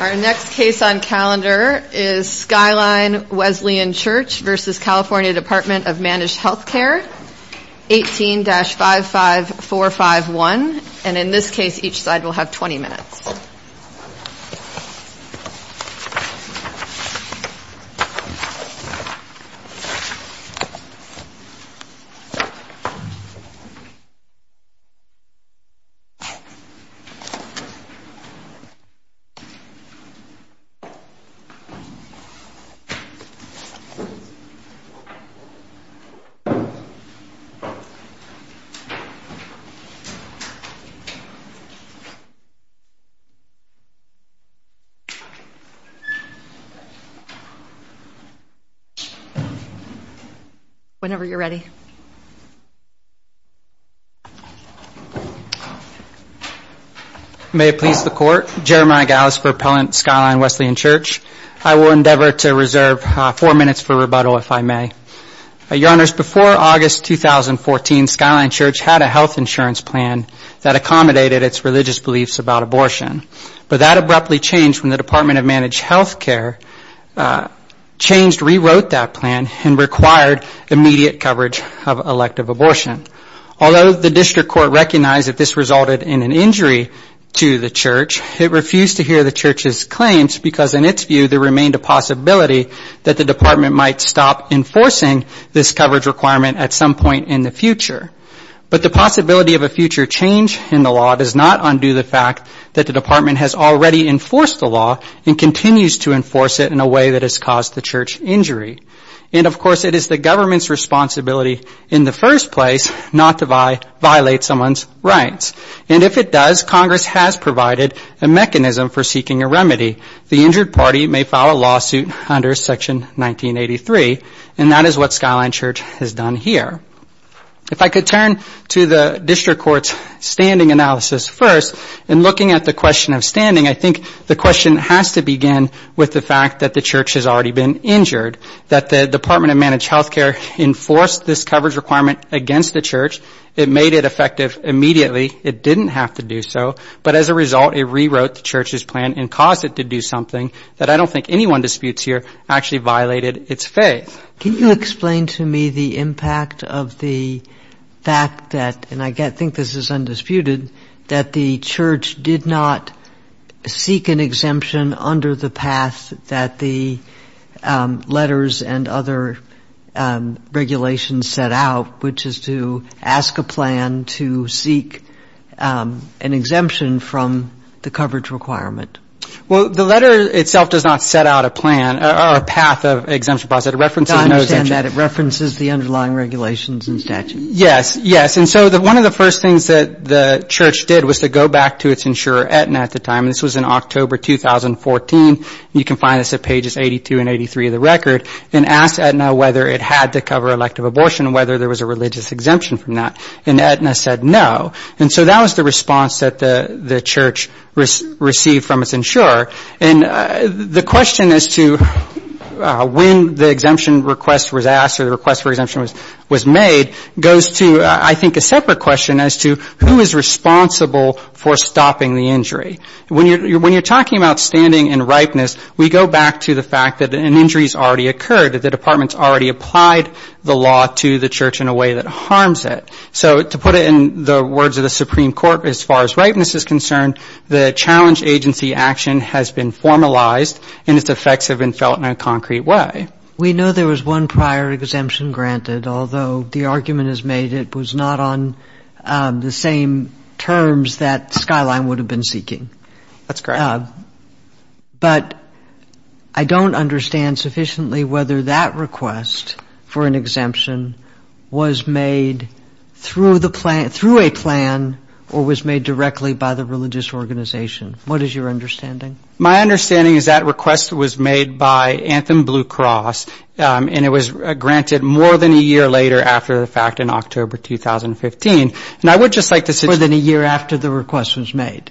Our next case on calendar is Skyline Wesleyan Church v. CA Dept of Managed Health Care, 18-55451, and in this case each side will have 20 minutes. Skyline Wesleyan Church v. CA Dept of Managed Health Care Before August 2014, Skyline Church had a health insurance plan that accommodated its religious beliefs about abortion, but that abruptly changed when the Department of Managed Health Care rewrote that plan and required immediate coverage of elective abortion. Although the District Court recognized that this resulted in an injury to the Church, it refused to hear the Church's claims because in its view there remained a possibility that the Department might stop enforcing this coverage requirement at some point in the future. But the possibility of a future change in the law does not undo the fact that the Department has already enforced the law and continues to enforce it in a way that has caused the Church injury. And, of course, it is the government's responsibility in the first place not to violate someone's rights. And if it does, Congress has provided a mechanism for seeking a remedy. The injured party may file a lawsuit under Section 1983, and that is what Skyline Church has done here. If I could turn to the District Court's standing analysis first, in looking at the question of standing, I think the question has to begin with the fact that the Church has already been injured, that the Department of Managed Health Care enforced this coverage requirement against the Church. It made it effective immediately. It didn't have to do so. But as a result, it rewrote the Church's plan and caused it to do something that I don't think anyone disputes here actually violated its faith. Can you explain to me the impact of the fact that, and I think this is undisputed, that the Church did not seek an exemption under the path that the letters and other regulations set out, which is to ask a plan to seek an exemption from the coverage requirement? Well, the letter itself does not set out a plan or a path of exemption process. It references no exemption. I understand that. It references the underlying regulations and statutes. Yes, yes. And so one of the first things that the Church did was to go back to its insurer, Aetna, at the time, and this was in October 2014. You can find this at pages 82 and 83 of the record, and asked Aetna whether it had to cover elective abortion and whether there was a religious exemption from that, and Aetna said no. And so that was the response that the Church received from its insurer. And the question as to when the exemption request was asked or the request for exemption was made goes to, I think, a separate question as to who is responsible for stopping the injury. When you're talking about standing and ripeness, we go back to the fact that an injury has already occurred, that the department's already applied the law to the Church in a way that harms it. So to put it in the words of the Supreme Court, as far as ripeness is concerned, the challenge agency action has been formalized and its effects have been felt in a concrete way. We know there was one prior exemption granted, although the argument is made it was not on the same terms that Skyline would have been seeking. That's correct. But I don't understand sufficiently whether that request for an exemption was made through a plan or was made directly by the religious organization. What is your understanding? My understanding is that request was made by Anthem Blue Cross, and it was granted more than a year later after the fact in October 2015. More than a year after the request was made?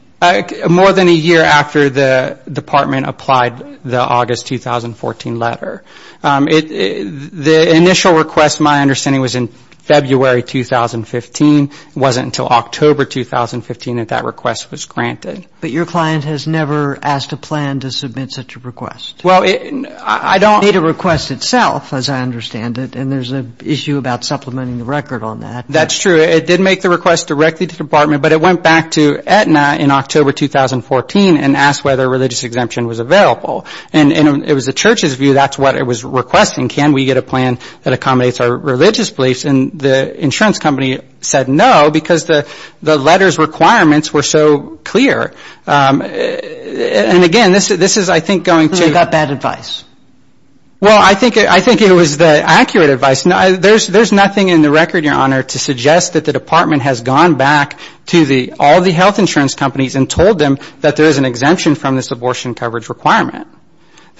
More than a year after the department applied the August 2014 letter. The initial request, my understanding, was in February 2015. It wasn't until October 2015 that that request was granted. But your client has never asked a plan to submit such a request? Well, I don't need a request itself, as I understand it, and there's an issue about supplementing the record on that. That's true. It did make the request directly to the department, but it went back to Aetna in October 2014 and asked whether a religious exemption was available. And it was the church's view, that's what it was requesting. Can we get a plan that accommodates our religious beliefs? And the insurance company said no, because the letter's requirements were so clear. And again, this is, I think, going to ---- it suggests that the department has gone back to all the health insurance companies and told them that there is an exemption from this abortion coverage requirement.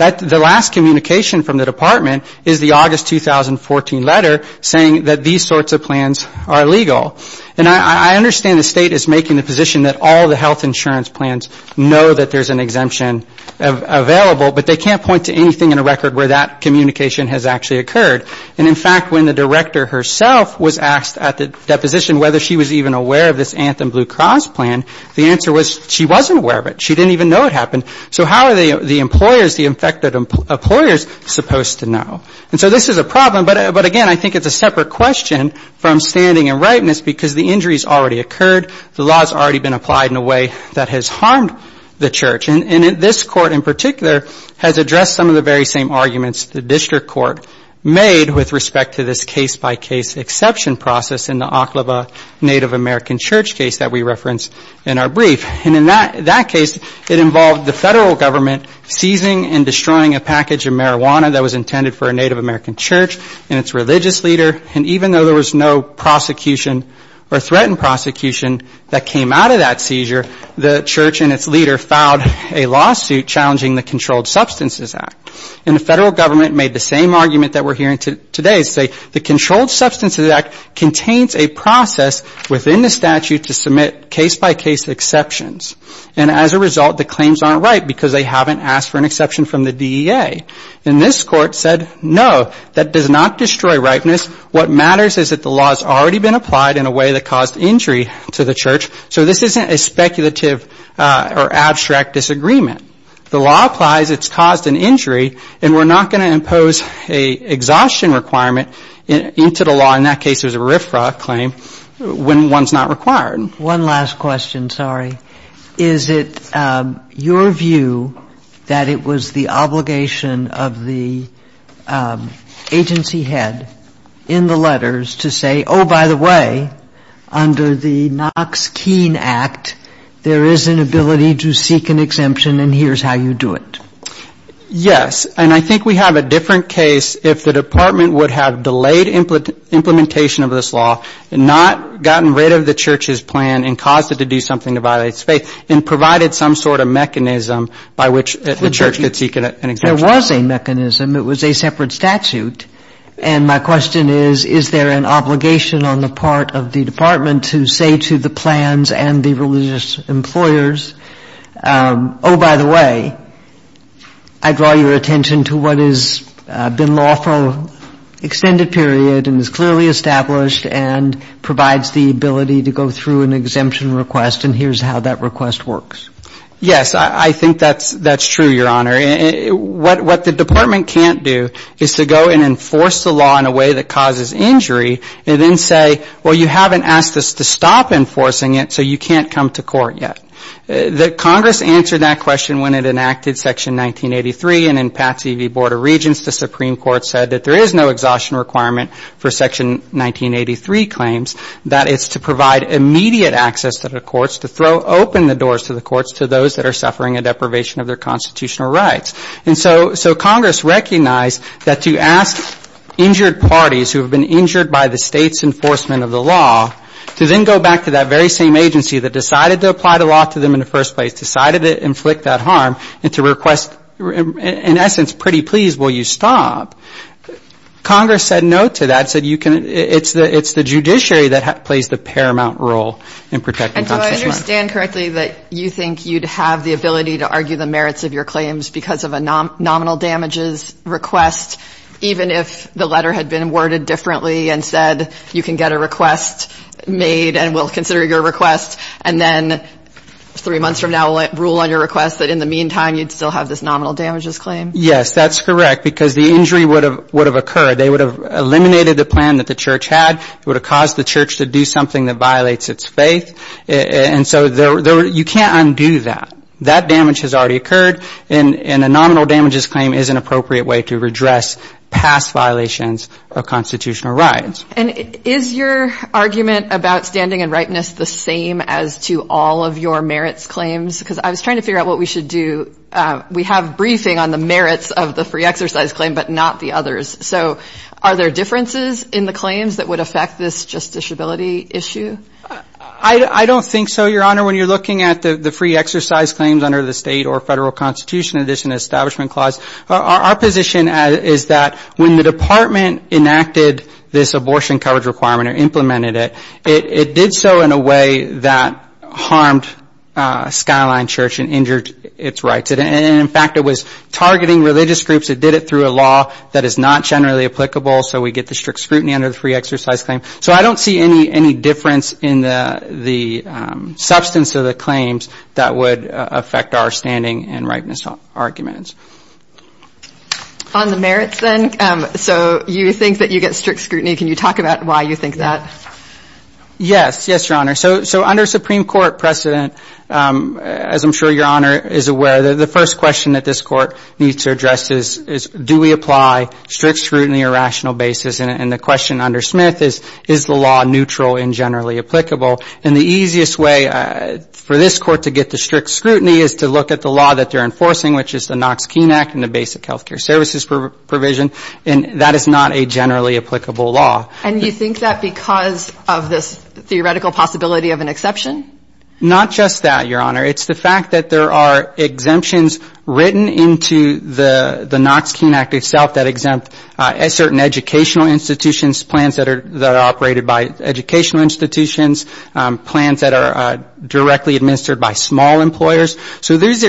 The last communication from the department is the August 2014 letter saying that these sorts of plans are illegal. And I understand the state is making the position that all the health insurance plans know that there's an exemption available, but they can't point to anything in a record where that communication has actually occurred. And in fact, when the director herself was asked at the deposition whether she was even aware of this Anthem Blue Cross plan, the answer was she wasn't aware of it. She didn't even know it happened. So how are the employers, the infected employers, supposed to know? And so this is a problem, but again, I think it's a separate question from standing in rightness, because the injury's already occurred, the law's already been applied in a way that has harmed the church. And this court in particular has addressed some of the very same arguments the district court made with respect to this case-by-case exception process in the Oklahoma Native American Church case that we referenced in our brief. And in that case, it involved the federal government seizing and destroying a package of marijuana that was intended for a Native American church and its religious leader, and even though there was no prosecution or threatened prosecution that came out of that seizure, the church and its leader filed a lawsuit challenging the Controlled Substances Act. And the federal government made the same argument that we're hearing today, saying the Controlled Substances Act contains a process within the statute to submit case-by-case exceptions. And as a result, the claims aren't right because they haven't asked for an exception from the DEA. And this court said, no, that does not destroy rightness. What matters is that the law's already been applied in a way that caused injury to the church. So this isn't a speculative or abstract disagreement. The law applies, it's caused an injury, and we're not going to impose an exhaustion requirement into the law, in that case it was a RFRA claim, when one's not required. One last question, sorry. Is it your view that it was the obligation of the agency head in the letters to say, oh, by the way, under the Knox-Keene Act, there is an ability to seek an exemption and here's how you do it? Yes, and I think we have a different case if the Department would have delayed implementation of this law, not gotten rid of the church's plan and caused it to do something to violate its faith, and provided some sort of mechanism by which the church could seek an exemption. There was a mechanism, it was a separate statute, and my question is, is there an obligation on the part of the Department to say to the plans and the religious employers, oh, by the way, I draw your attention to what has been lawful, extended period and is clearly established and provides the ability to go through an exemption request and here's how that request works? Yes, I think that's true, Your Honor. What the Department can't do is to go and enforce the law in a way that causes injury and then say, well, you haven't asked us to stop enforcing it, so you can't come to court yet. Congress answered that question when it enacted Section 1983 and in Patsy v. Board of Regents, the Supreme Court said that there is no exhaustion requirement for Section 1983 claims, that it's to provide immediate access to the courts, to throw open the doors to the courts to those that are suffering a deprivation of their constitutional rights. And so Congress recognized that to ask injured parties who have been injured by the State's enforcement of the law to then go back to that very same agency that decided to apply the law to them in the first place, decided to inflict that harm and to request, in essence, pretty please, will you stop? Congress said no to that, said you can, it's the judiciary that plays the paramount role in protecting constitutional rights. And do I understand correctly that you think you'd have the ability to argue the merits of your claims because of a nominal damages request, even if the letter had been worded differently and said you can get a request made and we'll consider your request and then three months from now we'll rule on your request, that in the meantime you'd still have this nominal damages claim? Yes, that's correct, because the injury would have occurred, they would have eliminated the plan that the church had, would have caused the church to do something that violates its faith, and so you can't undo that. That damage has already occurred, and a nominal damages claim is an appropriate way to redress past violations of constitutional rights. And is your argument about standing and ripeness the same as to all of your merits claims? Because I was trying to figure out what we should do. We have briefing on the merits of the free exercise claim, but not the others. So are there differences in the claims that would affect this justiciability issue? I don't think so, Your Honor. When you're looking at the free exercise claims under the State or Federal Constitution, in addition to the Establishment Clause, our position is that when the department enacted this abortion coverage requirement or implemented it, it did so in a way that harmed Skyline Church and injured its rights. And in fact, it was targeting religious groups. It did it through a law that is not generally applicable, so we get the strict scrutiny under the free exercise claim. So I don't see any difference in the substance of the claims that would affect our standing and ripeness arguments. On the merits then, so you think that you get strict scrutiny. Can you talk about why you think that? Yes. Yes, Your Honor. So under Supreme Court precedent, as I'm sure Your Honor is aware, the first question that this Court needs to address is, do we apply strict scrutiny on a rational basis? And the question under Smith is, is the law neutral and generally applicable? And the easiest way for this Court to get the strict scrutiny is to look at the law that they're enforcing, because of this theoretical possibility of an exception? Not just that, Your Honor. It's the fact that there are exemptions written into the Knox-Keene Act itself that exempt certain educational institutions, plans that are operated by educational institutions, plans that are directly administered by small employers. So those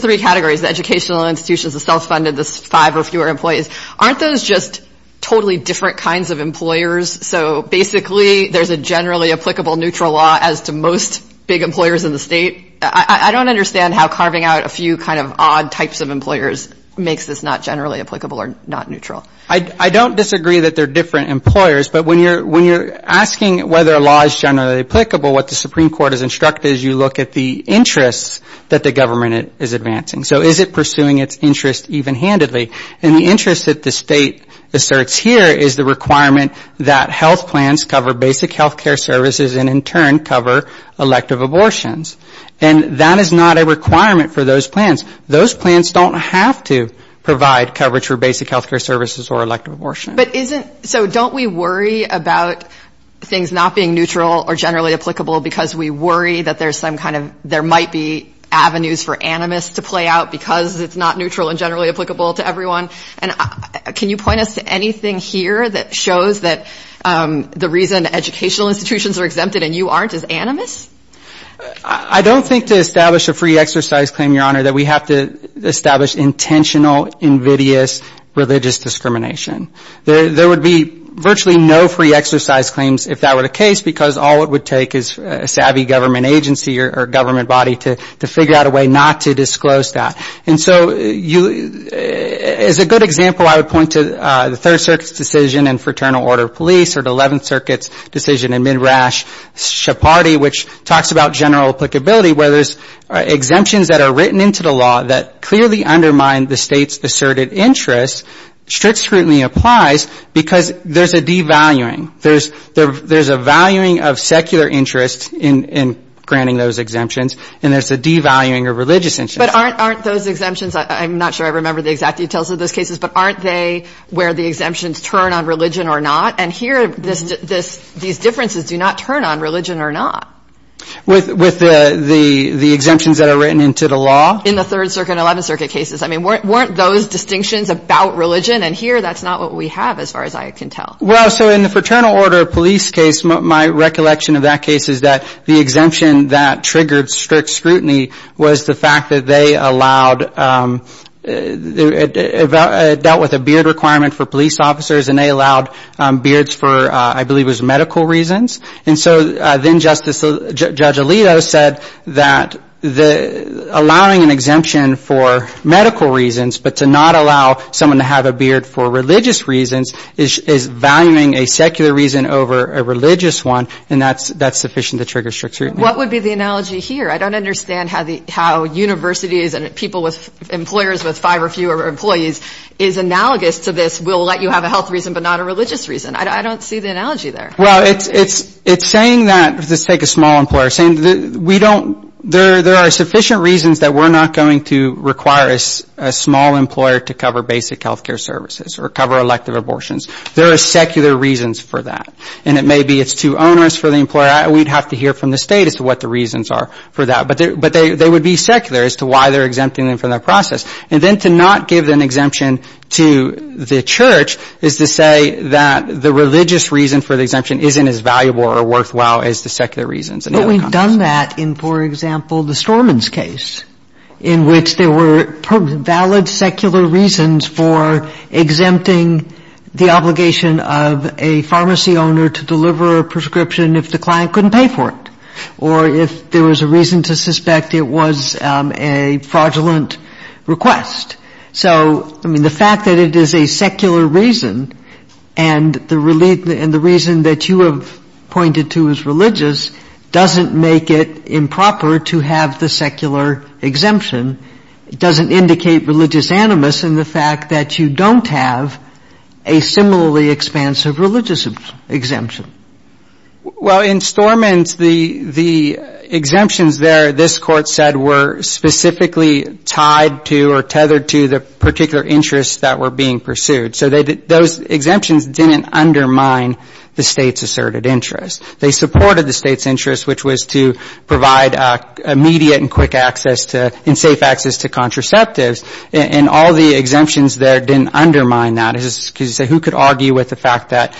three categories, educational institutions, the self-funded, the five or fewer employees, aren't those just totally different kinds of employers? So basically there's a generally applicable neutral law as to most big employers in the state? I don't understand how carving out a few kind of odd types of employers makes this not generally applicable or not neutral. I don't disagree that they're different employers, but when you're asking whether a law is generally applicable, what the Supreme Court has instructed is you look at the interests that the government is advancing. So is it pursuing its interests even-handedly? And the interests that the state asserts here is the requirement that health plans cover basic health care services and in turn cover elective abortions. And that is not a requirement for those plans. Those plans don't have to provide coverage for basic health care services or elective abortions. But isn't, so don't we worry about things not being neutral or generally applicable because we worry that there's some kind of, there might be avenues for animus to play out because it's not neutral and generally applicable to everyone? And can you point us to anything here that shows that the reason educational institutions are exempted and you aren't is animus? I don't think to establish a free exercise claim, Your Honor, that we have to establish intentional invidious religious discrimination. There would be virtually no free exercise claims if that were the case, because all it would take is a savvy government agency or government body to figure out a way not to disclose that. And so as a good example, I would point to the Third Circuit's decision in Fraternal Order of Police or the Eleventh Circuit's decision in Midrash Shepardi, which talks about general applicability, where there's exemptions that are written into the law that clearly undermine the state's asserted interest. Strict scrutiny applies because there's a devaluing. There's a valuing of secular interest in granting those exemptions, and there's a devaluing of religious interest. But aren't those exemptions, I'm not sure I remember the exact details of those cases, but aren't they where the exemptions turn on religion or not? And here these differences do not turn on religion or not. With the exemptions that are written into the law? In the Third Circuit and Eleventh Circuit cases. I mean, weren't those distinctions about religion? And here that's not what we have, as far as I can tell. Well, so in the Fraternal Order of Police case, my recollection of that case is that the exemption that triggered strict scrutiny was the fact that they allowed, dealt with a beard requirement for police officers, and they allowed beards for, I believe it was medical reasons. And so then Justice, Judge Alito said that allowing an exemption for medical reasons, but to not allow someone to have a beard for religious reasons, is valuing a secular reason over a religious one, and that's sufficient to trigger strict scrutiny. What would be the analogy here? I don't understand how universities and people with, employers with five or fewer employees is analogous to this, we'll let you have a health reason, but not a religious reason. I don't see the analogy there. Well, it's saying that, let's take a small employer, saying we don't, there are sufficient reasons that we're not going to require a small employer to cover basic health care services or cover elective abortions. There are secular reasons for that. And it may be it's too onerous for the employer. We'd have to hear from the State as to what the reasons are for that. But they would be secular as to why they're exempting them from that process. And then to not give an exemption to the church is to say that the religious reason for the exemption isn't as valuable or worthwhile as the secular reasons. But we've done that in, for example, the Storman's case, in which there were valid secular reasons for exempting the obligation of a pharmacy owner to deliver a prescription if the client couldn't pay for it. Or if there was a reason to suspect it was a fraudulent request. So, I mean, the fact that it is a secular reason and the reason that you have pointed to as religious doesn't make it improper to have the secular exemption. It doesn't indicate religious animus in the fact that you don't have a similarly expansive religious exemption. Well, in Storman's, the exemptions there, this Court said, were specifically tied to or tethered to the particular interests that were being pursued. So those exemptions didn't undermine the State's asserted interest. They supported the State's interest, which was to provide immediate and quick access to and safe access to contraceptives. And all the exemptions there didn't undermine that. Who could argue with the fact that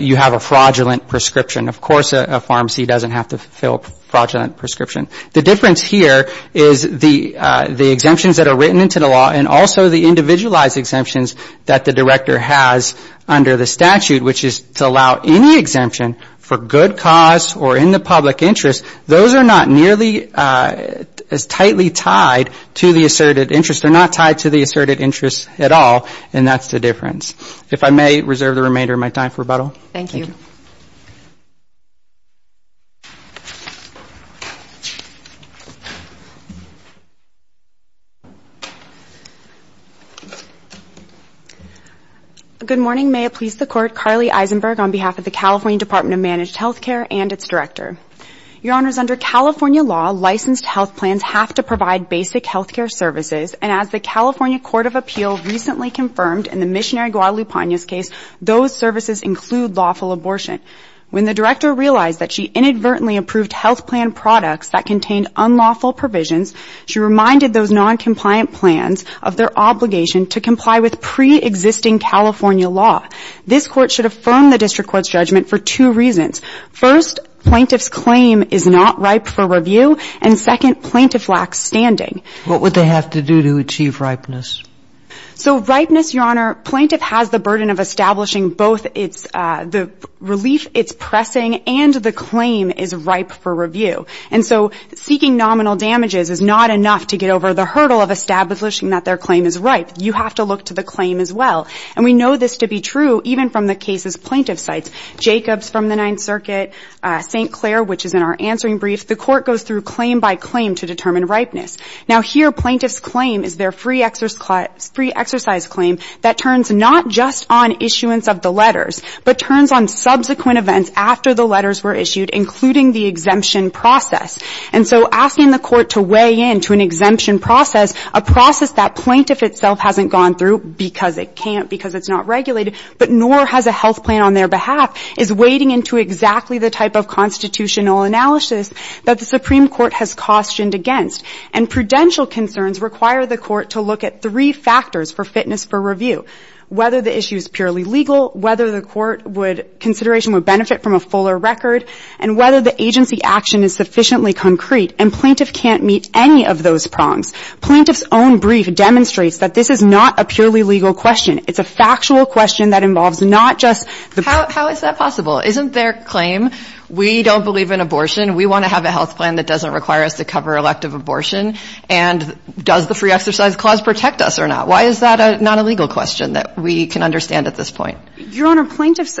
you have a fraudulent prescription? Of course a pharmacy doesn't have to fill a fraudulent prescription. The difference here is the exemptions that are written into the law and also the individualized exemptions that the Director has under the statute, which is to allow any exemption for good cause or in the public interest, those are not nearly as tightly tied to the asserted interest. They're not tied to the asserted interest at all. And that's the difference. If I may reserve the remainder of my time for rebuttal. Thank you. Good morning. May it please the Court. Carly Eisenberg on behalf of the California Department of Managed Health Care and its Director. Your Honors, under California law, licensed health plans have to provide basic health care services. And as the California Court of Appeal recently confirmed in the case of the District Court, it does not include lawful abortion. When the Director realized that she inadvertently approved health plan products that contained unlawful provisions, she reminded those noncompliant plans of their obligation to comply with pre-existing California law. This Court should affirm the District Court's judgment for two reasons. First, plaintiff's claim is not ripe for review. And second, plaintiff lacks standing. What would they have to do to achieve ripeness? Now, here, plaintiff's claim is their free exercise claim that turns not just on issuance of the letters, but turns on subsequent events after the letters were issued, including the exemption process. And so asking the Court to weigh in to an exemption process, a process that plaintiff itself hasn't gone through because it can't, because it's not regulated, but nor has a health plan on their behalf, is wading into exactly the type of constitutional analysis that the Supreme Court has cautioned against. And prudential concerns require the Court to look at three factors for fitness for review, whether the issue is purely legal, whether the Court would, consideration would benefit from a fuller record, and whether the agency action is sufficiently concrete. And plaintiff can't meet any of those prongs. Plaintiff's own brief demonstrates that this is not a purely legal question. It's a factual question that involves not just the... And does the free exercise clause protect us or not? Why is that not a legal question that we can understand at this point? Your Honor, plaintiff's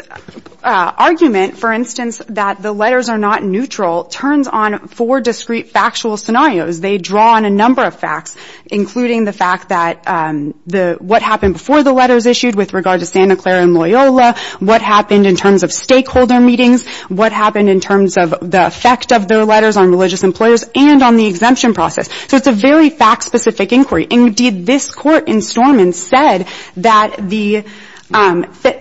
argument, for instance, that the letters are not neutral, turns on four discrete factual scenarios. They draw on a number of facts, including the fact that the, what happened before the letters issued with regard to Santa Clara and Loyola, what happened in terms of stakeholder meetings, what happened in terms of the effect of their letters on religious employers and on the exemption process. So it's a very fact-specific inquiry. Indeed, this Court in Stormont said that the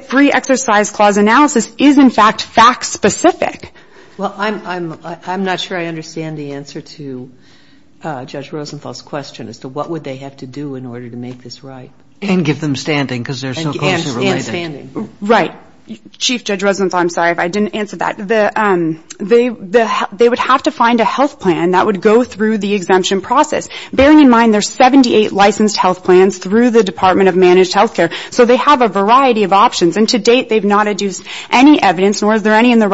free exercise clause analysis is, in fact, fact-specific. Well, I'm not sure I understand the answer to Judge Rosenthal's question as to what would they have to do in order to make this right. And give them standing, because they're so closely related. And standing. Right. Chief Judge Rosenthal, I'm sorry if I didn't answer that. They would have to find a health plan that would go through the exemption process. Bearing in mind there's 78 licensed health plans through the Department of Managed Health Care. So they have a variety of options. And to date, they've not adduced any evidence, nor is there any in the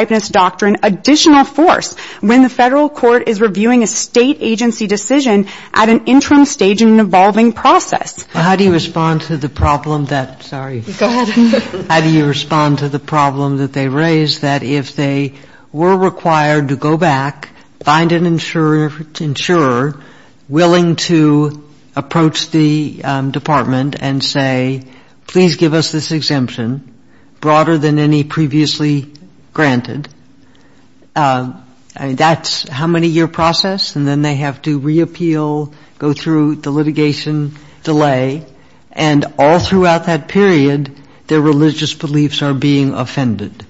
indictments doctrine additional force when the Federal Court is reviewing a State agency decision at an interim stage in an evolving process. Well, how do you respond to the problem that they raise that if they were required to go back, find an insurer willing to approach the Department and say, please give us this exemption, broader than any previously granted, that's how many-year process, and then they have to reappeal, go through the litigation delay. And all throughout that period, their religious beliefs are being offended.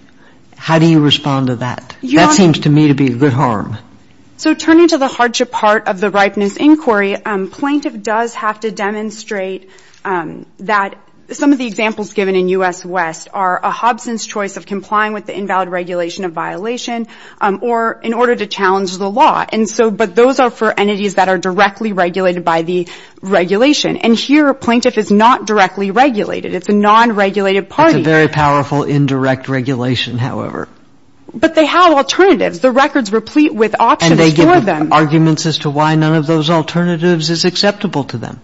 How do you respond to that? That seems to me to be a good harm. So turning to the hardship part of the Ripeness Inquiry, plaintiff does have to demonstrate that some of the examples given in U.S. West are a Hobson's choice of complying with the invalid regulation of violation or in order to challenge the law. And so, but those are for entities that are directly regulated by the regulation. And here, a plaintiff is not directly regulated. It's a non-regulated party. It's a very powerful indirect regulation, however. But they have alternatives. The records replete with options for them. They have arguments as to why none of those alternatives is acceptable to them.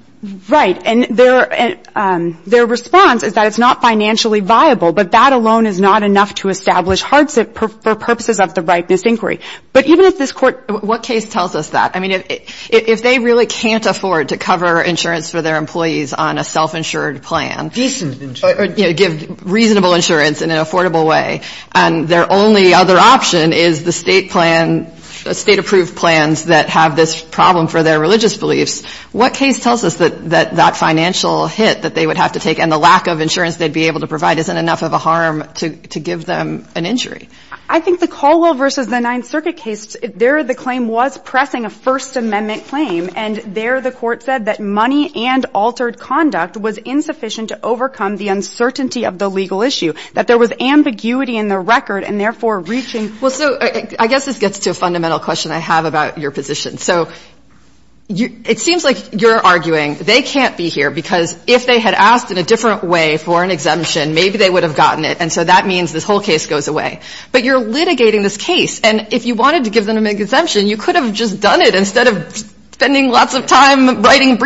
Right. And their response is that it's not financially viable, but that alone is not enough to establish hardship for purposes of the Ripeness Inquiry. But even if this Court — what case tells us that? I mean, if they really can't afford to cover insurance for their employees on a self-insured plan — Decent insurance. Or, you know, give reasonable insurance in an affordable way, and their only other option is the State plan — State-approved plans that have this problem for their religious beliefs, what case tells us that that financial hit that they would have to take and the lack of insurance they'd be able to provide isn't enough of a harm to give them an injury? I think the Caldwell v. the Ninth Circuit case, there the claim was pressing a First Amendment claim, and there the Court said that money and altered conduct was insufficient to overcome the uncertainty of the legal issue, that there was ambiguity in the record, and therefore reaching — Well, so I guess this gets to a fundamental question I have about your position. So it seems like you're arguing they can't be here because if they had asked in a different way for an exemption, maybe they would have gotten it, and so that means this whole case goes away. But you're litigating this case, and if you wanted to give them an exemption, you could have just done it instead of spending lots of time writing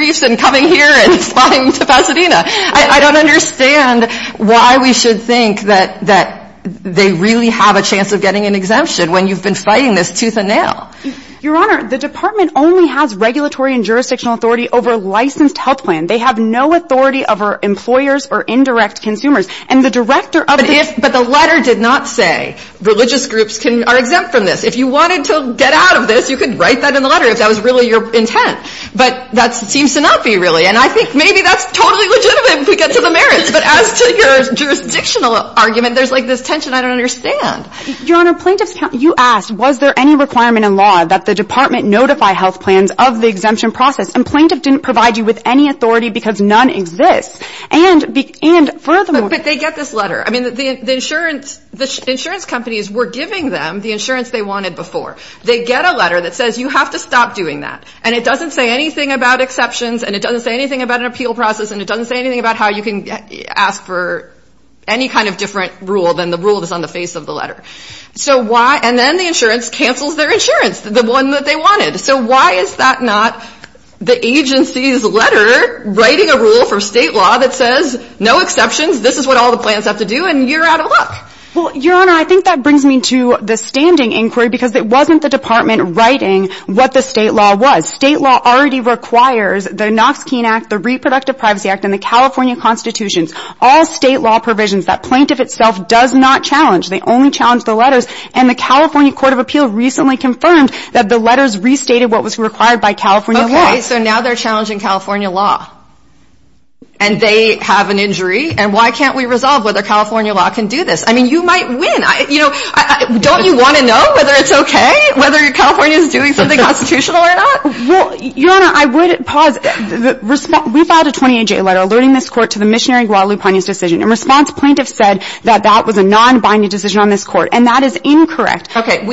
I don't understand why we should think that they really have a chance of getting an exemption when you've been fighting this tooth and nail. Your Honor, the Department only has regulatory and jurisdictional authority over a licensed health plan. They have no authority over employers or indirect consumers. And the Director of the — But the letter did not say religious groups are exempt from this. If you wanted to get out of this, you could write that in the letter if that was really your intent. But that seems to not be really, and I think maybe that's totally legitimate if we get to the merits. But as to your jurisdictional argument, there's like this tension I don't understand. Your Honor, plaintiffs — you asked, was there any requirement in law that the Department notify health plans of the exemption process? And plaintiff didn't provide you with any authority because none exists. And furthermore — But they get this letter. I mean, the insurance — the insurance companies were giving them the insurance they wanted before. They get a letter that says you have to stop doing that. And it doesn't say anything about exceptions, and it doesn't say anything about an appeal process, and it doesn't say anything about how you can ask for any kind of different rule than the rule that's on the face of the letter. So why — and then the insurance cancels their insurance, the one that they wanted. So why is that not the agency's letter writing a rule for State law that says no exceptions, this is what all the plans have to do, and you're out of luck? Well, Your Honor, I think that brings me to the standing inquiry because it wasn't the Department writing what the State law was. State law already requires the Knox-Keene Act, the Reproductive Privacy Act, and the California Constitution. All State law provisions that plaintiff itself does not challenge. They only challenge the letters. And the California Court of Appeal recently confirmed that the letters restated what was required by California law. Okay, so now they're challenging California law. And they have an injury. And why can't we resolve whether California law can do this? I mean, you might win. You know, don't you want to know whether it's okay, whether California is doing something constitutional or not? Well, Your Honor, I would pause. We filed a 28-J letter alerting this Court to the missionary Guadalupe Pena's decision. In response, plaintiffs said that that was a nonbinding decision on this Court. And that is incorrect. Okay.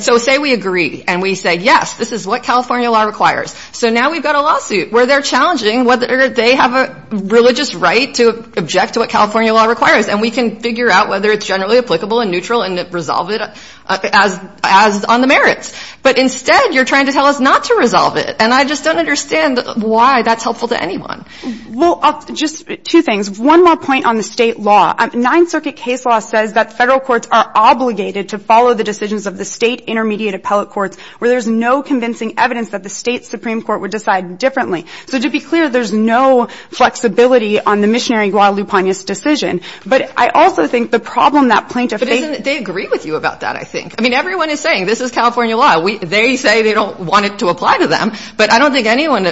So say we agree. And we say, yes, this is what California law requires. So now we've got a lawsuit where they're challenging whether they have a religious right to object to what California law requires. And we can figure out whether it's generally applicable and neutral and resolve it as on the merits. But instead, you're trying to tell us not to resolve it. And I just don't understand why that's helpful to anyone. Well, just two things. One more point on the State law. Ninth Circuit case law says that Federal courts are obligated to follow the decisions of the State intermediate appellate courts where there's no convincing evidence that the State Supreme Court would decide differently. So to be clear, there's no flexibility on the missionary Guadalupe Pena's decision. But I also think the problem that plaintiffs think they agree with you about that, I think. I mean, everyone is saying this is California law. They say they don't want it to apply to them. But I don't think anyone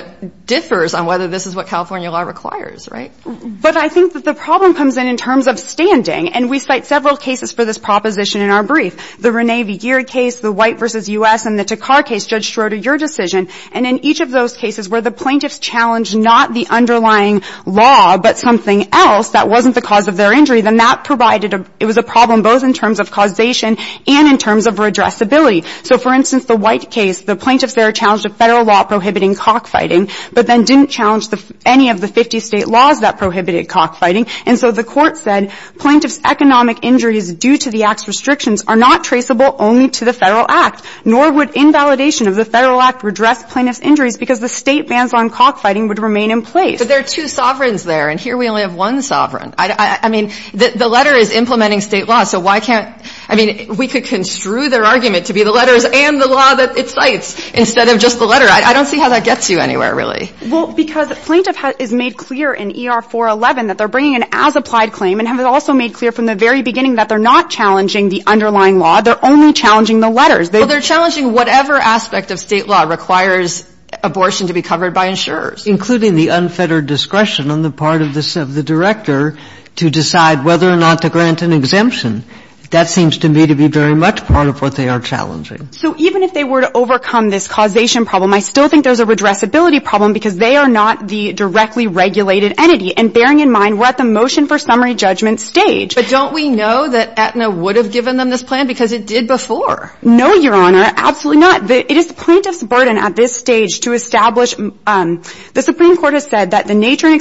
differs on whether this is what California law requires, right? But I think that the problem comes in in terms of standing. And we cite several cases for this proposition in our brief. The Rene V. Geer case, the White v. U.S. and the Takar case, Judge Schroeder, your decision. And in each of those cases where the plaintiffs challenged not the underlying law but something else that wasn't the cause of their injury, then that provided a – it was a problem both in terms of causation and in terms of redressability. So, for instance, the White case, the plaintiffs there challenged a Federal law prohibiting cockfighting, but then didn't challenge any of the 50 State laws that prohibited cockfighting. And so the Court said plaintiffs' economic injuries due to the Act's restrictions are not traceable only to the Federal Act, nor would invalidation of the Federal Act redress plaintiffs' injuries because the State bans on cockfighting would remain in place. But there are two sovereigns there, and here we only have one sovereign. I mean, the letter is implementing State law, so why can't – I mean, we could construe their argument to be the letters and the law that it cites instead of just the letter. I don't see how that gets you anywhere, really. Well, because plaintiff has made clear in ER-411 that they're bringing an as-applied claim and have also made clear from the very beginning that they're not challenging the underlying law. They're only challenging the letters. Well, they're challenging whatever aspect of State law requires abortion to be covered by insurers. Including the unfettered discretion on the part of the Director to decide whether or not to grant an exemption. That seems to me to be very much part of what they are challenging. So even if they were to overcome this causation problem, I still think there's a redressability problem because they are not the directly regulated entity. And bearing in mind, we're at the motion for summary judgment stage. But don't we know that Aetna would have given them this plan because it did before? No, Your Honor, absolutely not. It is the plaintiff's burden at this stage to establish. The Supreme Court has said that the nature and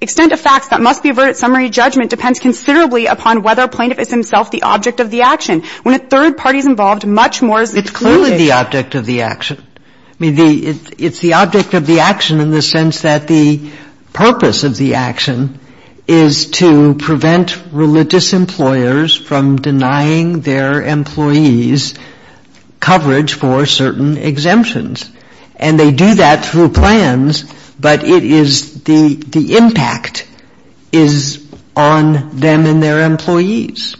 extent of facts that must be averted summary judgment depends considerably upon whether a plaintiff is himself the object of the action. When a third party is involved, much more is excluded. It's clearly the object of the action. I mean, it's the object of the action in the sense that the purpose of the action is to prevent religious employers from denying their employees coverage for certain exemptions. And they do that through plans, but it is the impact is on them and their employees.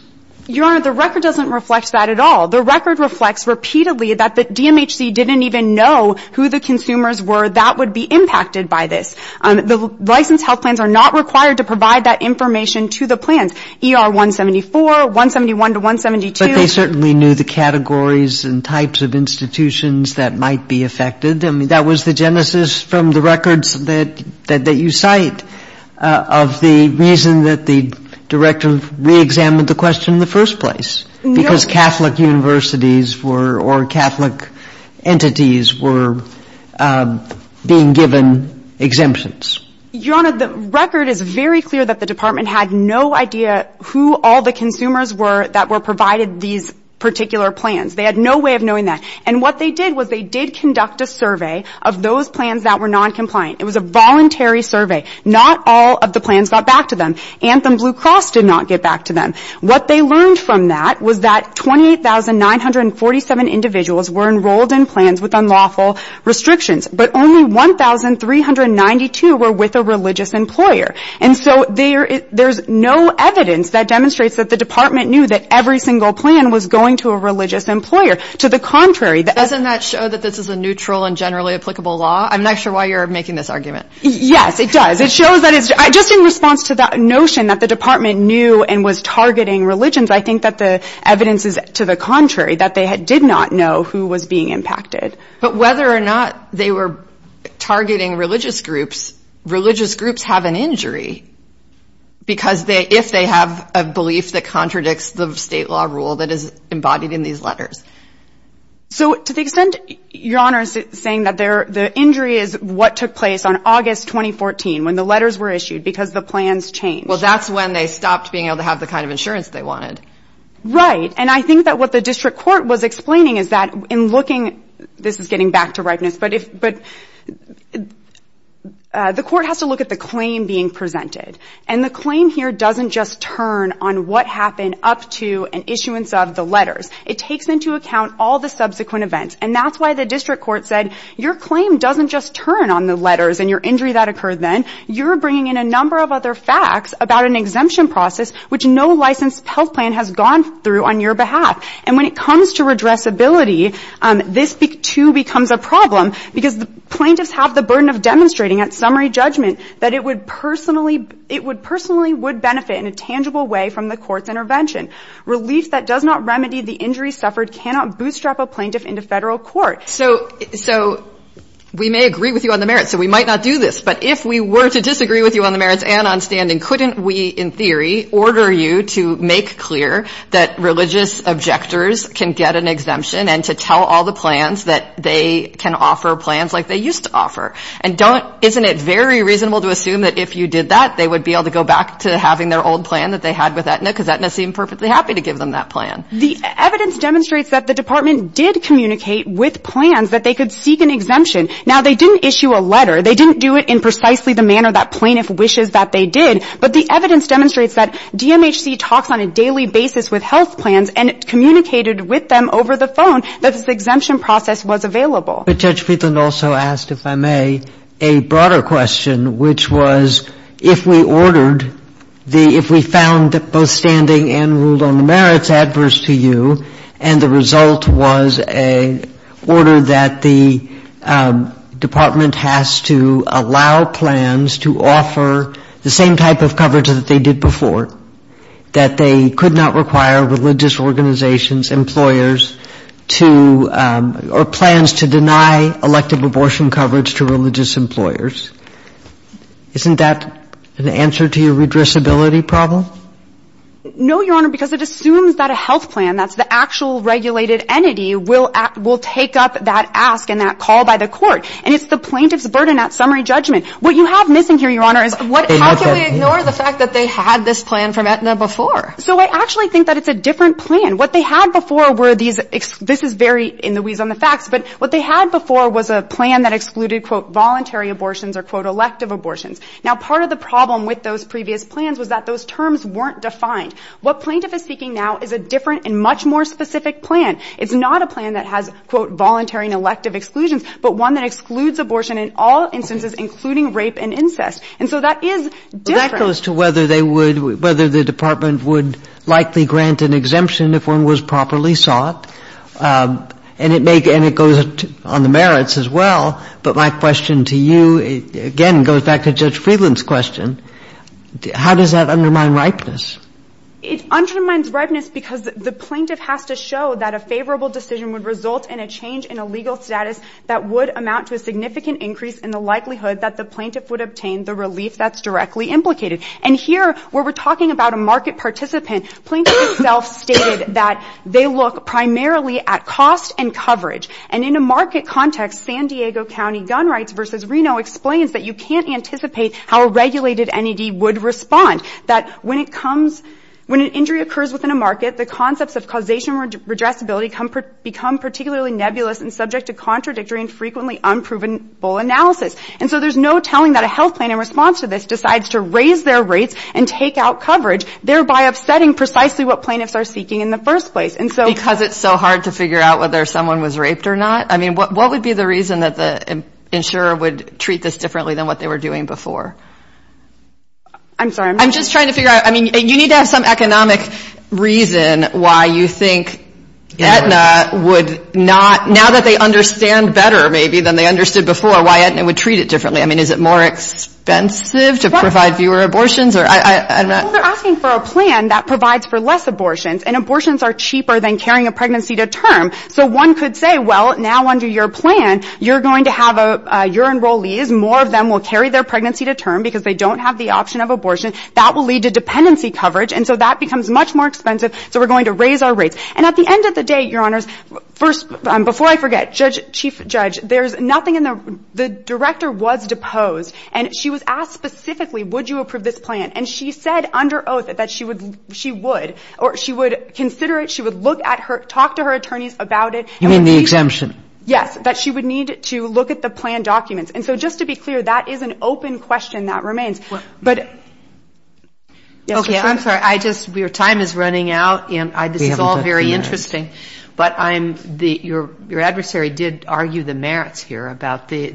Your Honor, the record doesn't reflect that at all. The record reflects repeatedly that the DMHC didn't even know who the consumers That would be impacted by this. The licensed health plans are not required to provide that information to the plans. ER 174, 171 to 172. But they certainly knew the categories and types of institutions that might be affected. I mean, that was the genesis from the records that you cite of the reason that the director reexamined the question in the first place. No. So you're saying that because Catholic universities were or Catholic entities were being given exemptions. Your Honor, the record is very clear that the department had no idea who all the consumers were that were provided these particular plans. They had no way of knowing that. And what they did was they did conduct a survey of those plans that were noncompliant. It was a voluntary survey. Not all of the plans got back to them. Anthem Blue Cross did not get back to them. What they learned from that was that 28,947 individuals were enrolled in plans with unlawful restrictions. But only 1,392 were with a religious employer. And so there's no evidence that demonstrates that the department knew that every single plan was going to a religious employer. To the contrary. Doesn't that show that this is a neutral and generally applicable law? I'm not sure why you're making this argument. Yes, it does. Just in response to that notion that the department knew and was targeting religions, I think that the evidence is to the contrary. That they did not know who was being impacted. But whether or not they were targeting religious groups, religious groups have an injury because if they have a belief that contradicts the state law rule that is embodied in these letters. So to the extent, Your Honor, saying that the injury is what took place on the letters were issued because the plans changed. Well, that's when they stopped being able to have the kind of insurance they wanted. Right. And I think that what the district court was explaining is that in looking, this is getting back to ripeness, but the court has to look at the claim being presented. And the claim here doesn't just turn on what happened up to an issuance of the letters. It takes into account all the subsequent events. And that's why the district court said, Your claim doesn't just turn on the number of other facts about an exemption process which no licensed health plan has gone through on your behalf. And when it comes to redressability, this, too, becomes a problem because the plaintiffs have the burden of demonstrating at summary judgment that it would personally be, it would personally would benefit in a tangible way from the court's intervention. Relief that does not remedy the injury suffered cannot bootstrap a plaintiff into Federal court. So, so we may agree with you on the merits. So we might not do this. But if we were to disagree with you on the merits and on standing, couldn't we, in theory, order you to make clear that religious objectors can get an exemption and to tell all the plans that they can offer plans like they used to offer? And don't, isn't it very reasonable to assume that if you did that, they would be able to go back to having their old plan that they had with Aetna because Aetna seemed perfectly happy to give them that plan? The evidence demonstrates that the department did communicate with plans that they could seek an exemption. Now, they didn't issue a letter. They didn't do it in precisely the manner that plaintiff wishes that they did. But the evidence demonstrates that DMHC talks on a daily basis with health plans and communicated with them over the phone that this exemption process was available. But Judge Friedland also asked, if I may, a broader question, which was if we ordered the, if we found both standing and ruled on the merits adverse to you, and the result was an order that the department has to allow plans to offer the same type of coverage that they did before, that they could not require religious organizations, employers, to, or plans to deny elective abortion coverage to religious employers, isn't that an answer to your redressability problem? No, Your Honor, because it assumes that a health plan, that's the actual regulated entity, will take up that ask and that call by the court. And it's the plaintiff's burden at summary judgment. What you have missing here, Your Honor, is what — How can we ignore the fact that they had this plan from Aetna before? So I actually think that it's a different plan. What they had before were these, this is very in the weeds on the facts, but what they had before was a plan that excluded, quote, voluntary abortions or, quote, elective abortions. Now, part of the problem with those previous plans was that those terms weren't defined. What plaintiff is speaking now is a different and much more specific plan. It's not a plan that has, quote, voluntary and elective exclusions, but one that excludes abortion in all instances, including rape and incest. And so that is different. But that goes to whether they would, whether the Department would likely grant an exemption if one was properly sought. And it may, and it goes on the merits as well. But my question to you, again, goes back to Judge Friedland's question. How does that undermine ripeness? It undermines ripeness because the plaintiff has to show that a favorable decision would result in a change in a legal status that would amount to a significant increase in the likelihood that the plaintiff would obtain the relief that's directly implicated. And here, where we're talking about a market participant, plaintiff itself stated that they look primarily at cost and coverage. And in a market context, San Diego County gun rights versus Reno explains that you can't anticipate how a regulated NED would respond, that when it comes, when an injury occurs within a market, the concepts of causation and redressability become particularly nebulous and subject to contradictory and frequently unproven analysis. And so there's no telling that a health plan in response to this decides to raise their rates and take out coverage, thereby upsetting precisely what plaintiffs are seeking in the first place. And so ‑‑ Because it's so hard to figure out whether someone was raped or not? I mean, what would be the reason that the insurer would treat this differently than what they were doing before? I'm sorry, I'm not ‑‑ I'm just trying to figure out, I mean, you need to have some economic reason why you think Aetna would not, now that they understand better, maybe, than they understood before, why Aetna would treat it differently. I mean, is it more expensive to provide fewer abortions? Well, they're asking for a plan that provides for less abortions. And abortions are cheaper than carrying a pregnancy to term. So one could say, well, now under your plan, you're going to have your enrollees, more of them will carry their pregnancy to term because they don't have the option of abortion. That will lead to dependency coverage. And so that becomes much more expensive, so we're going to raise our rates. And at the end of the day, Your Honors, first, before I forget, Chief Judge, there's nothing in the ‑‑ the director was deposed, and she was asked specifically, would you approve this plan? And she said under oath that she would, or she would consider it, she would look at her, talk to her attorneys about it. You mean the exemption? Yes. That she would need to look at the plan documents. And so just to be clear, that is an open question that remains. But ‑‑ Okay. I'm sorry. I just ‑‑ your time is running out, and this is all very interesting. But I'm ‑‑ your adversary did argue the merits here about the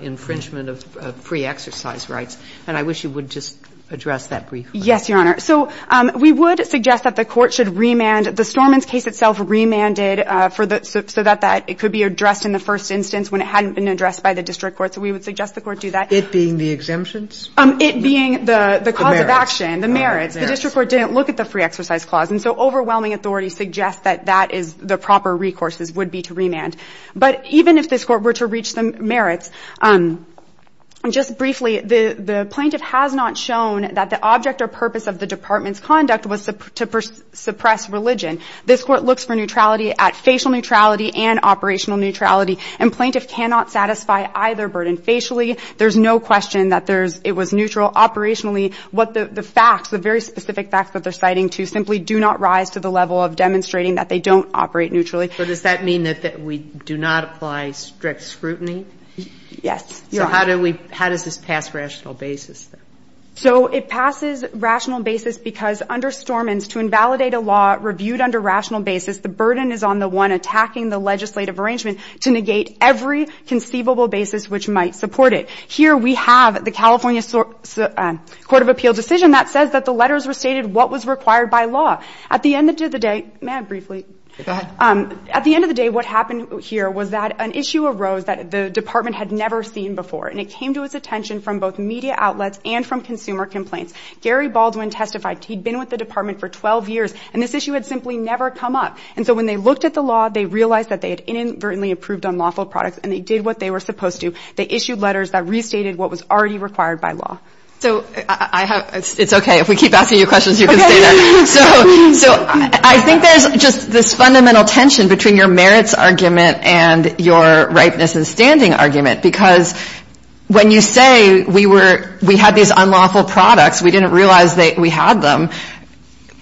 infringement of pre‑exercise rights, and I wish you would just address that briefly. Yes, Your Honor. So we would suggest that the Court should remand. And the Storman's case itself remanded for the ‑‑ so that it could be addressed in the first instance when it hadn't been addressed by the district court. So we would suggest the Court do that. It being the exemptions? It being the cause of action. The merits. The merits. The district court didn't look at the pre‑exercise clause. And so overwhelming authority suggests that that is the proper recourse would be to remand. But even if this Court were to reach the merits, just briefly, the plaintiff has not shown that the object or purpose of the department's conduct was to suppress religion. This Court looks for neutrality at facial neutrality and operational neutrality. And plaintiff cannot satisfy either burden. Facially, there's no question that there's ‑‑ it was neutral. Operationally, what the facts, the very specific facts that they're citing to simply do not rise to the level of demonstrating that they don't operate neutrally. But does that mean that we do not apply strict scrutiny? Yes, Your Honor. So how do we ‑‑ how does this pass rational basis? So it passes rational basis because under Stormins, to invalidate a law reviewed under rational basis, the burden is on the one attacking the legislative arrangement to negate every conceivable basis which might support it. Here we have the California Court of Appeal decision that says that the letters were stated what was required by law. At the end of the day ‑‑ may I briefly? Go ahead. At the end of the day, what happened here was that an issue arose that the department had never seen before. And it came to its attention from both media outlets and from consumer complaints. Gary Baldwin testified he'd been with the department for 12 years. And this issue had simply never come up. And so when they looked at the law, they realized that they had inadvertently approved unlawful products. And they did what they were supposed to. They issued letters that restated what was already required by law. So I have ‑‑ it's okay. If we keep asking you questions, you can stay there. So I think there's just this fundamental tension between your merits argument and your ripeness in standing argument. Because when you say we were ‑‑ we had these unlawful products, we didn't realize we had them,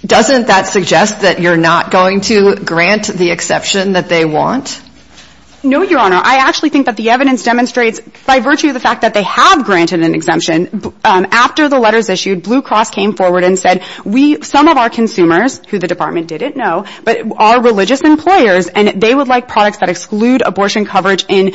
doesn't that suggest that you're not going to grant the exception that they want? No, Your Honor. I actually think that the evidence demonstrates by virtue of the fact that they have granted an exemption, after the letters issued, Blue Cross came forward and said we ‑‑ some of our consumers, who the department didn't know, but are religious employers, and they would like products that exclude abortion coverage in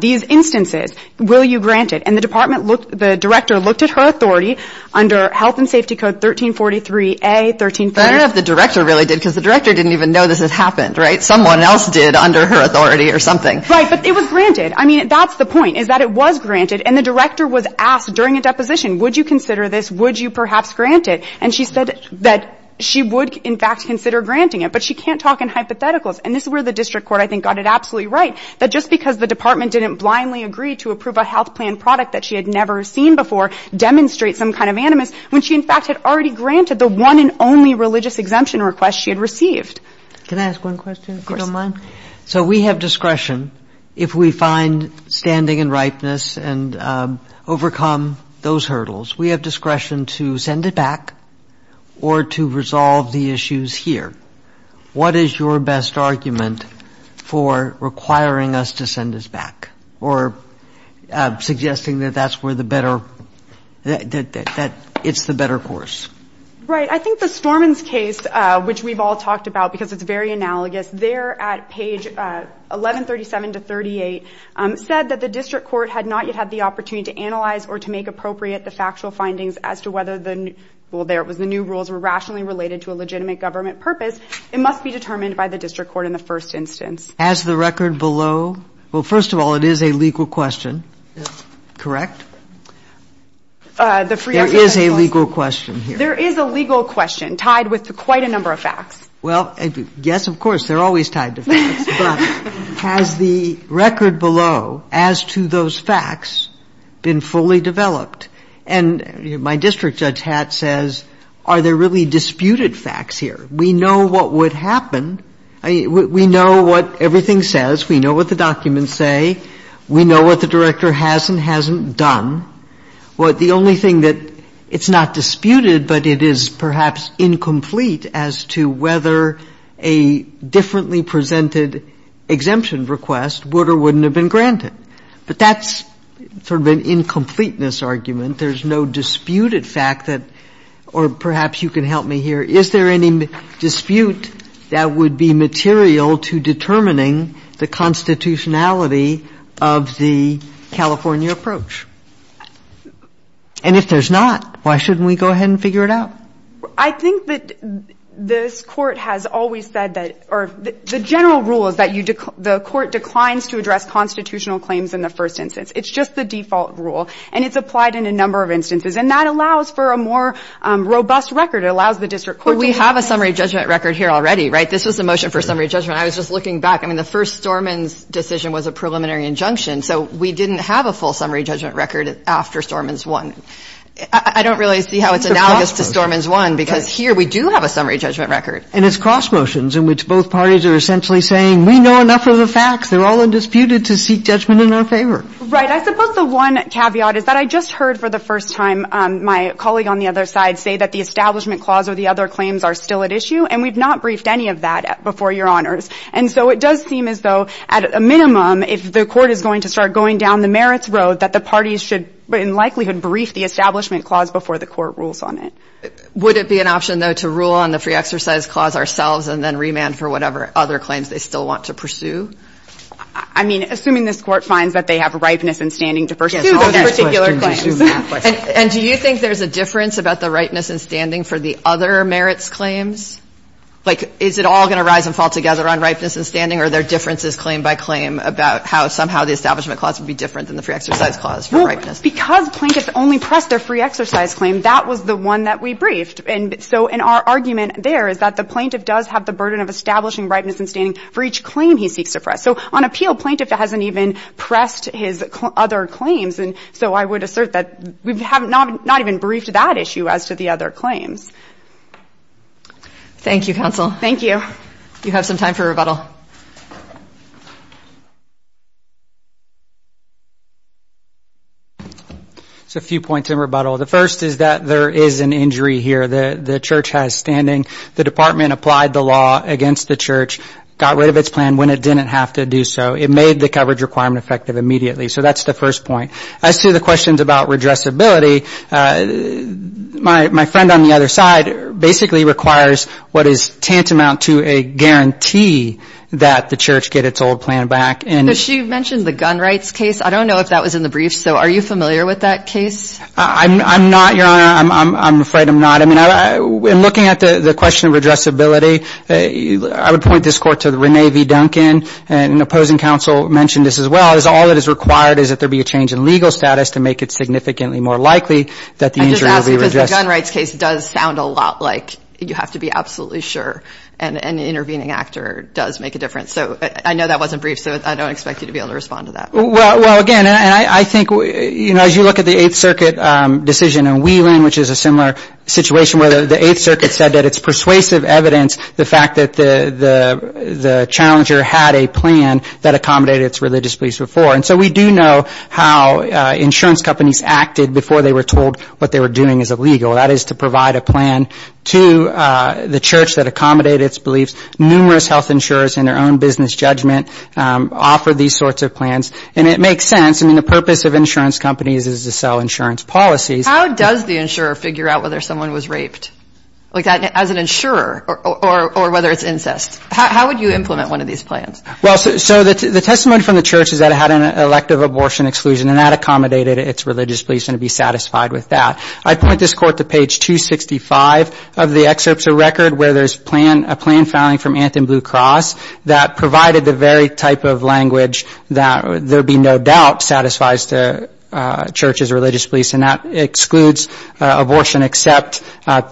these instances. Will you grant it? And the department looked ‑‑ the director looked at her authority under health and safety code 1343A, 1343. But I don't know if the director really did, because the director didn't even know this had happened, right? Someone else did under her authority or something. Right. But it was granted. I mean, that's the point, is that it was granted. And the director was asked during a deposition, would you consider this? Would you perhaps grant it? And she said that she would, in fact, consider granting it. But she can't talk in hypotheticals. And this is where the district court, I think, got it absolutely right, that just because the department didn't blindly agree to approve a health plan product that she had never seen before demonstrates some kind of animus, when she, in fact, had already granted the one and only religious exemption request she had received. Can I ask one question, if you don't mind? Of course. So we have discretion, if we find standing and ripeness and overcome those limitations, what is your best argument for requiring us to send this back or to resolve the issues here? What is your best argument for requiring us to send this back or suggesting that that's where the better, that it's the better course? Right. I think the Stormins case, which we've all talked about because it's very analogous, there at page 1137-38 said that the district court had not yet had the opportunity to analyze or to make appropriate the factual findings as to whether the new, well, there it was, the new rules were rationally related to a legitimate government purpose. It must be determined by the district court in the first instance. Has the record below? Well, first of all, it is a legal question. Correct? There is a legal question here. There is a legal question tied with quite a number of facts. Well, yes, of course, they're always tied to facts, but has the record below as to those facts been fully developed? And my district judge hat says, are there really disputed facts here? We know what would happen. We know what everything says. We know what the documents say. We know what the director has and hasn't done. The only thing that it's not disputed, but it is perhaps incomplete as to whether a differently presented exemption request would or wouldn't have been granted. But that's sort of an incompleteness argument. There's no disputed fact that or perhaps you can help me here. Is there any dispute that would be material to determining the constitutionality of the California approach? And if there's not, why shouldn't we go ahead and figure it out? I think that this Court has always said that the general rule is that the Court declines to address constitutional claims in the first instance. It's just the default rule. And it's applied in a number of instances. And that allows for a more robust record. It allows the district court to do that. But we have a summary judgment record here already, right? This was the motion for summary judgment. I was just looking back. I mean, the first Storman's decision was a preliminary injunction. So we didn't have a full summary judgment record after Storman's one. I don't really see how it's analogous to Storman's one, because here we do have a summary judgment record. And it's cross motions in which both parties are essentially saying we know enough of the facts. They're all undisputed to seek judgment in our favor. Right. I suppose the one caveat is that I just heard for the first time my colleague on the other side say that the Establishment Clause or the other claims are still at issue. And we've not briefed any of that before, Your Honors. And so it does seem as though, at a minimum, if the Court is going to start going down the merits road, that the parties should in likelihood brief the Establishment Clause before the Court rules on it. Would it be an option, though, to rule on the Free Exercise Clause ourselves and then remand for whatever other claims they still want to pursue? I mean, assuming this Court finds that they have ripeness and standing to pursue all of their particular claims. And do you think there's a difference about the ripeness and standing for the other merits claims? Like, is it all going to rise and fall together on ripeness and standing? Or are there differences claim by claim about how somehow the Establishment Clause would be different than the Free Exercise Clause for ripeness? Well, because plaintiffs only press their Free Exercise Claim, that was the one that we briefed. And so in our argument there is that the plaintiff does have the burden of establishing ripeness and standing for each claim he seeks to press. So on appeal, plaintiff hasn't even pressed his other claims. And so I would assert that we have not even briefed that issue as to the other claims. Thank you, Counsel. Thank you. You have some time for rebuttal. So a few points in rebuttal. The first is that there is an injury here. The Church has standing. The Department applied the law against the Church, got rid of its plan when it didn't have to do so. It made the coverage requirement effective immediately. So that's the first point. As to the questions about redressability, my friend on the other side basically requires what is tantamount to a guarantee that the Church get its old plan back. But she mentioned the gun rights case. I don't know if that was in the brief. So are you familiar with that case? I'm not, Your Honor. I'm afraid I'm not. I mean, in looking at the question of redressability, I would point this Court to Renee V. Duncan, and an opposing counsel mentioned this as well, is all that is required is that there be a change in legal status to make it significantly more likely that the injury will be redressed. I'm just asking because the gun rights case does sound a lot like you have to be absolutely sure an intervening actor does make a difference. So I know that wasn't brief, so I don't expect you to be able to respond to that. Well, again, I think as you look at the Eighth Circuit decision in Wheeling, which is a similar situation where the Eighth Circuit said that it's persuasive evidence, the fact that the challenger had a plan that accommodated its religious beliefs before. And so we do know how insurance companies acted before they were told what they were doing is illegal. That is to provide a plan to the church that accommodated its beliefs. Numerous health insurers in their own business judgment offer these sorts of plans. And it makes sense. I mean, the purpose of insurance companies is to sell insurance policies. How does the insurer figure out whether someone was raped? Like, as an insurer, or whether it's incest. How would you implement one of these plans? Well, so the testimony from the church is that it had an elective abortion exclusion, and that accommodated its religious beliefs, and it'd be satisfied with that. I'd point this court to page 265 of the excerpts of record where there's a plan filing from Anthem Blue Cross that provided the very type of language that there would be no doubt satisfies the church's religious beliefs, and that excludes abortion except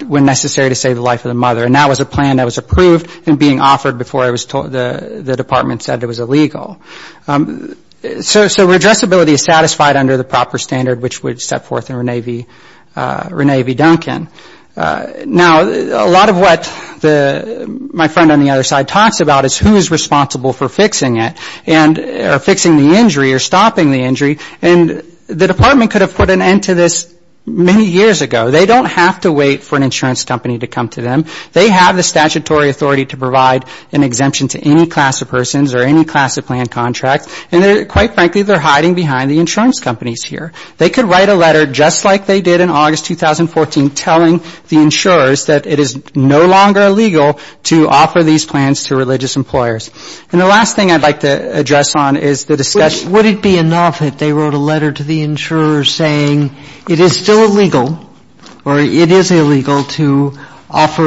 when necessary to save the life of the mother. And that was a plan that was approved and being offered before the department said it was illegal. So redressability is satisfied under the proper standard, which would set forth in Rene V. Duncan. Now, a lot of what my friend on the other side talks about is who is responsible for fixing it, or fixing the injury, or stopping the injury. And the department could have put an end to this many years ago. They don't have to wait for an insurance company to come to them. They have the statutory authority to provide an exemption to any class of persons or any class of plan contract. And they're, quite frankly, they're hiding behind the insurance companies here. They could write a letter just like they did in August 2014 telling the insurers that it is no longer illegal to offer these plans to religious employers. And the last thing I'd like to address on is the discussion ---- Would it be enough if they wrote a letter to the insurers saying it is still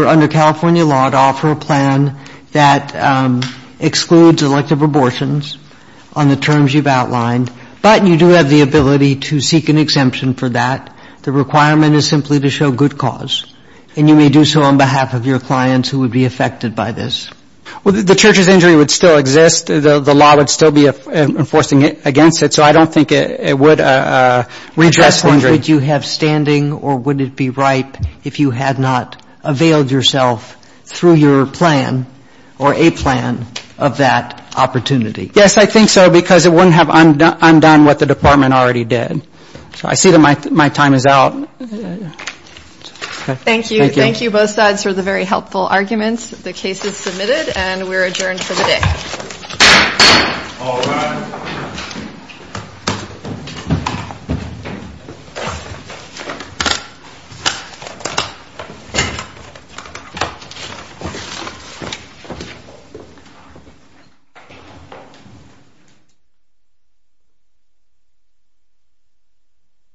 under California law to offer a plan that excludes elective abortions on the terms you've outlined, but you do have the ability to seek an exemption for that. The requirement is simply to show good cause. And you may do so on behalf of your clients who would be affected by this. Well, the church's injury would still exist. The law would still be enforcing against it. So I don't think it would redress the injury. Would you have standing or would it be ripe if you had not availed yourself through your plan or a plan of that opportunity? Yes, I think so, because it wouldn't have undone what the Department already did. So I see that my time is out. Thank you. Thank you both sides for the very helpful arguments. The case is submitted and we're adjourned for the day. All rise.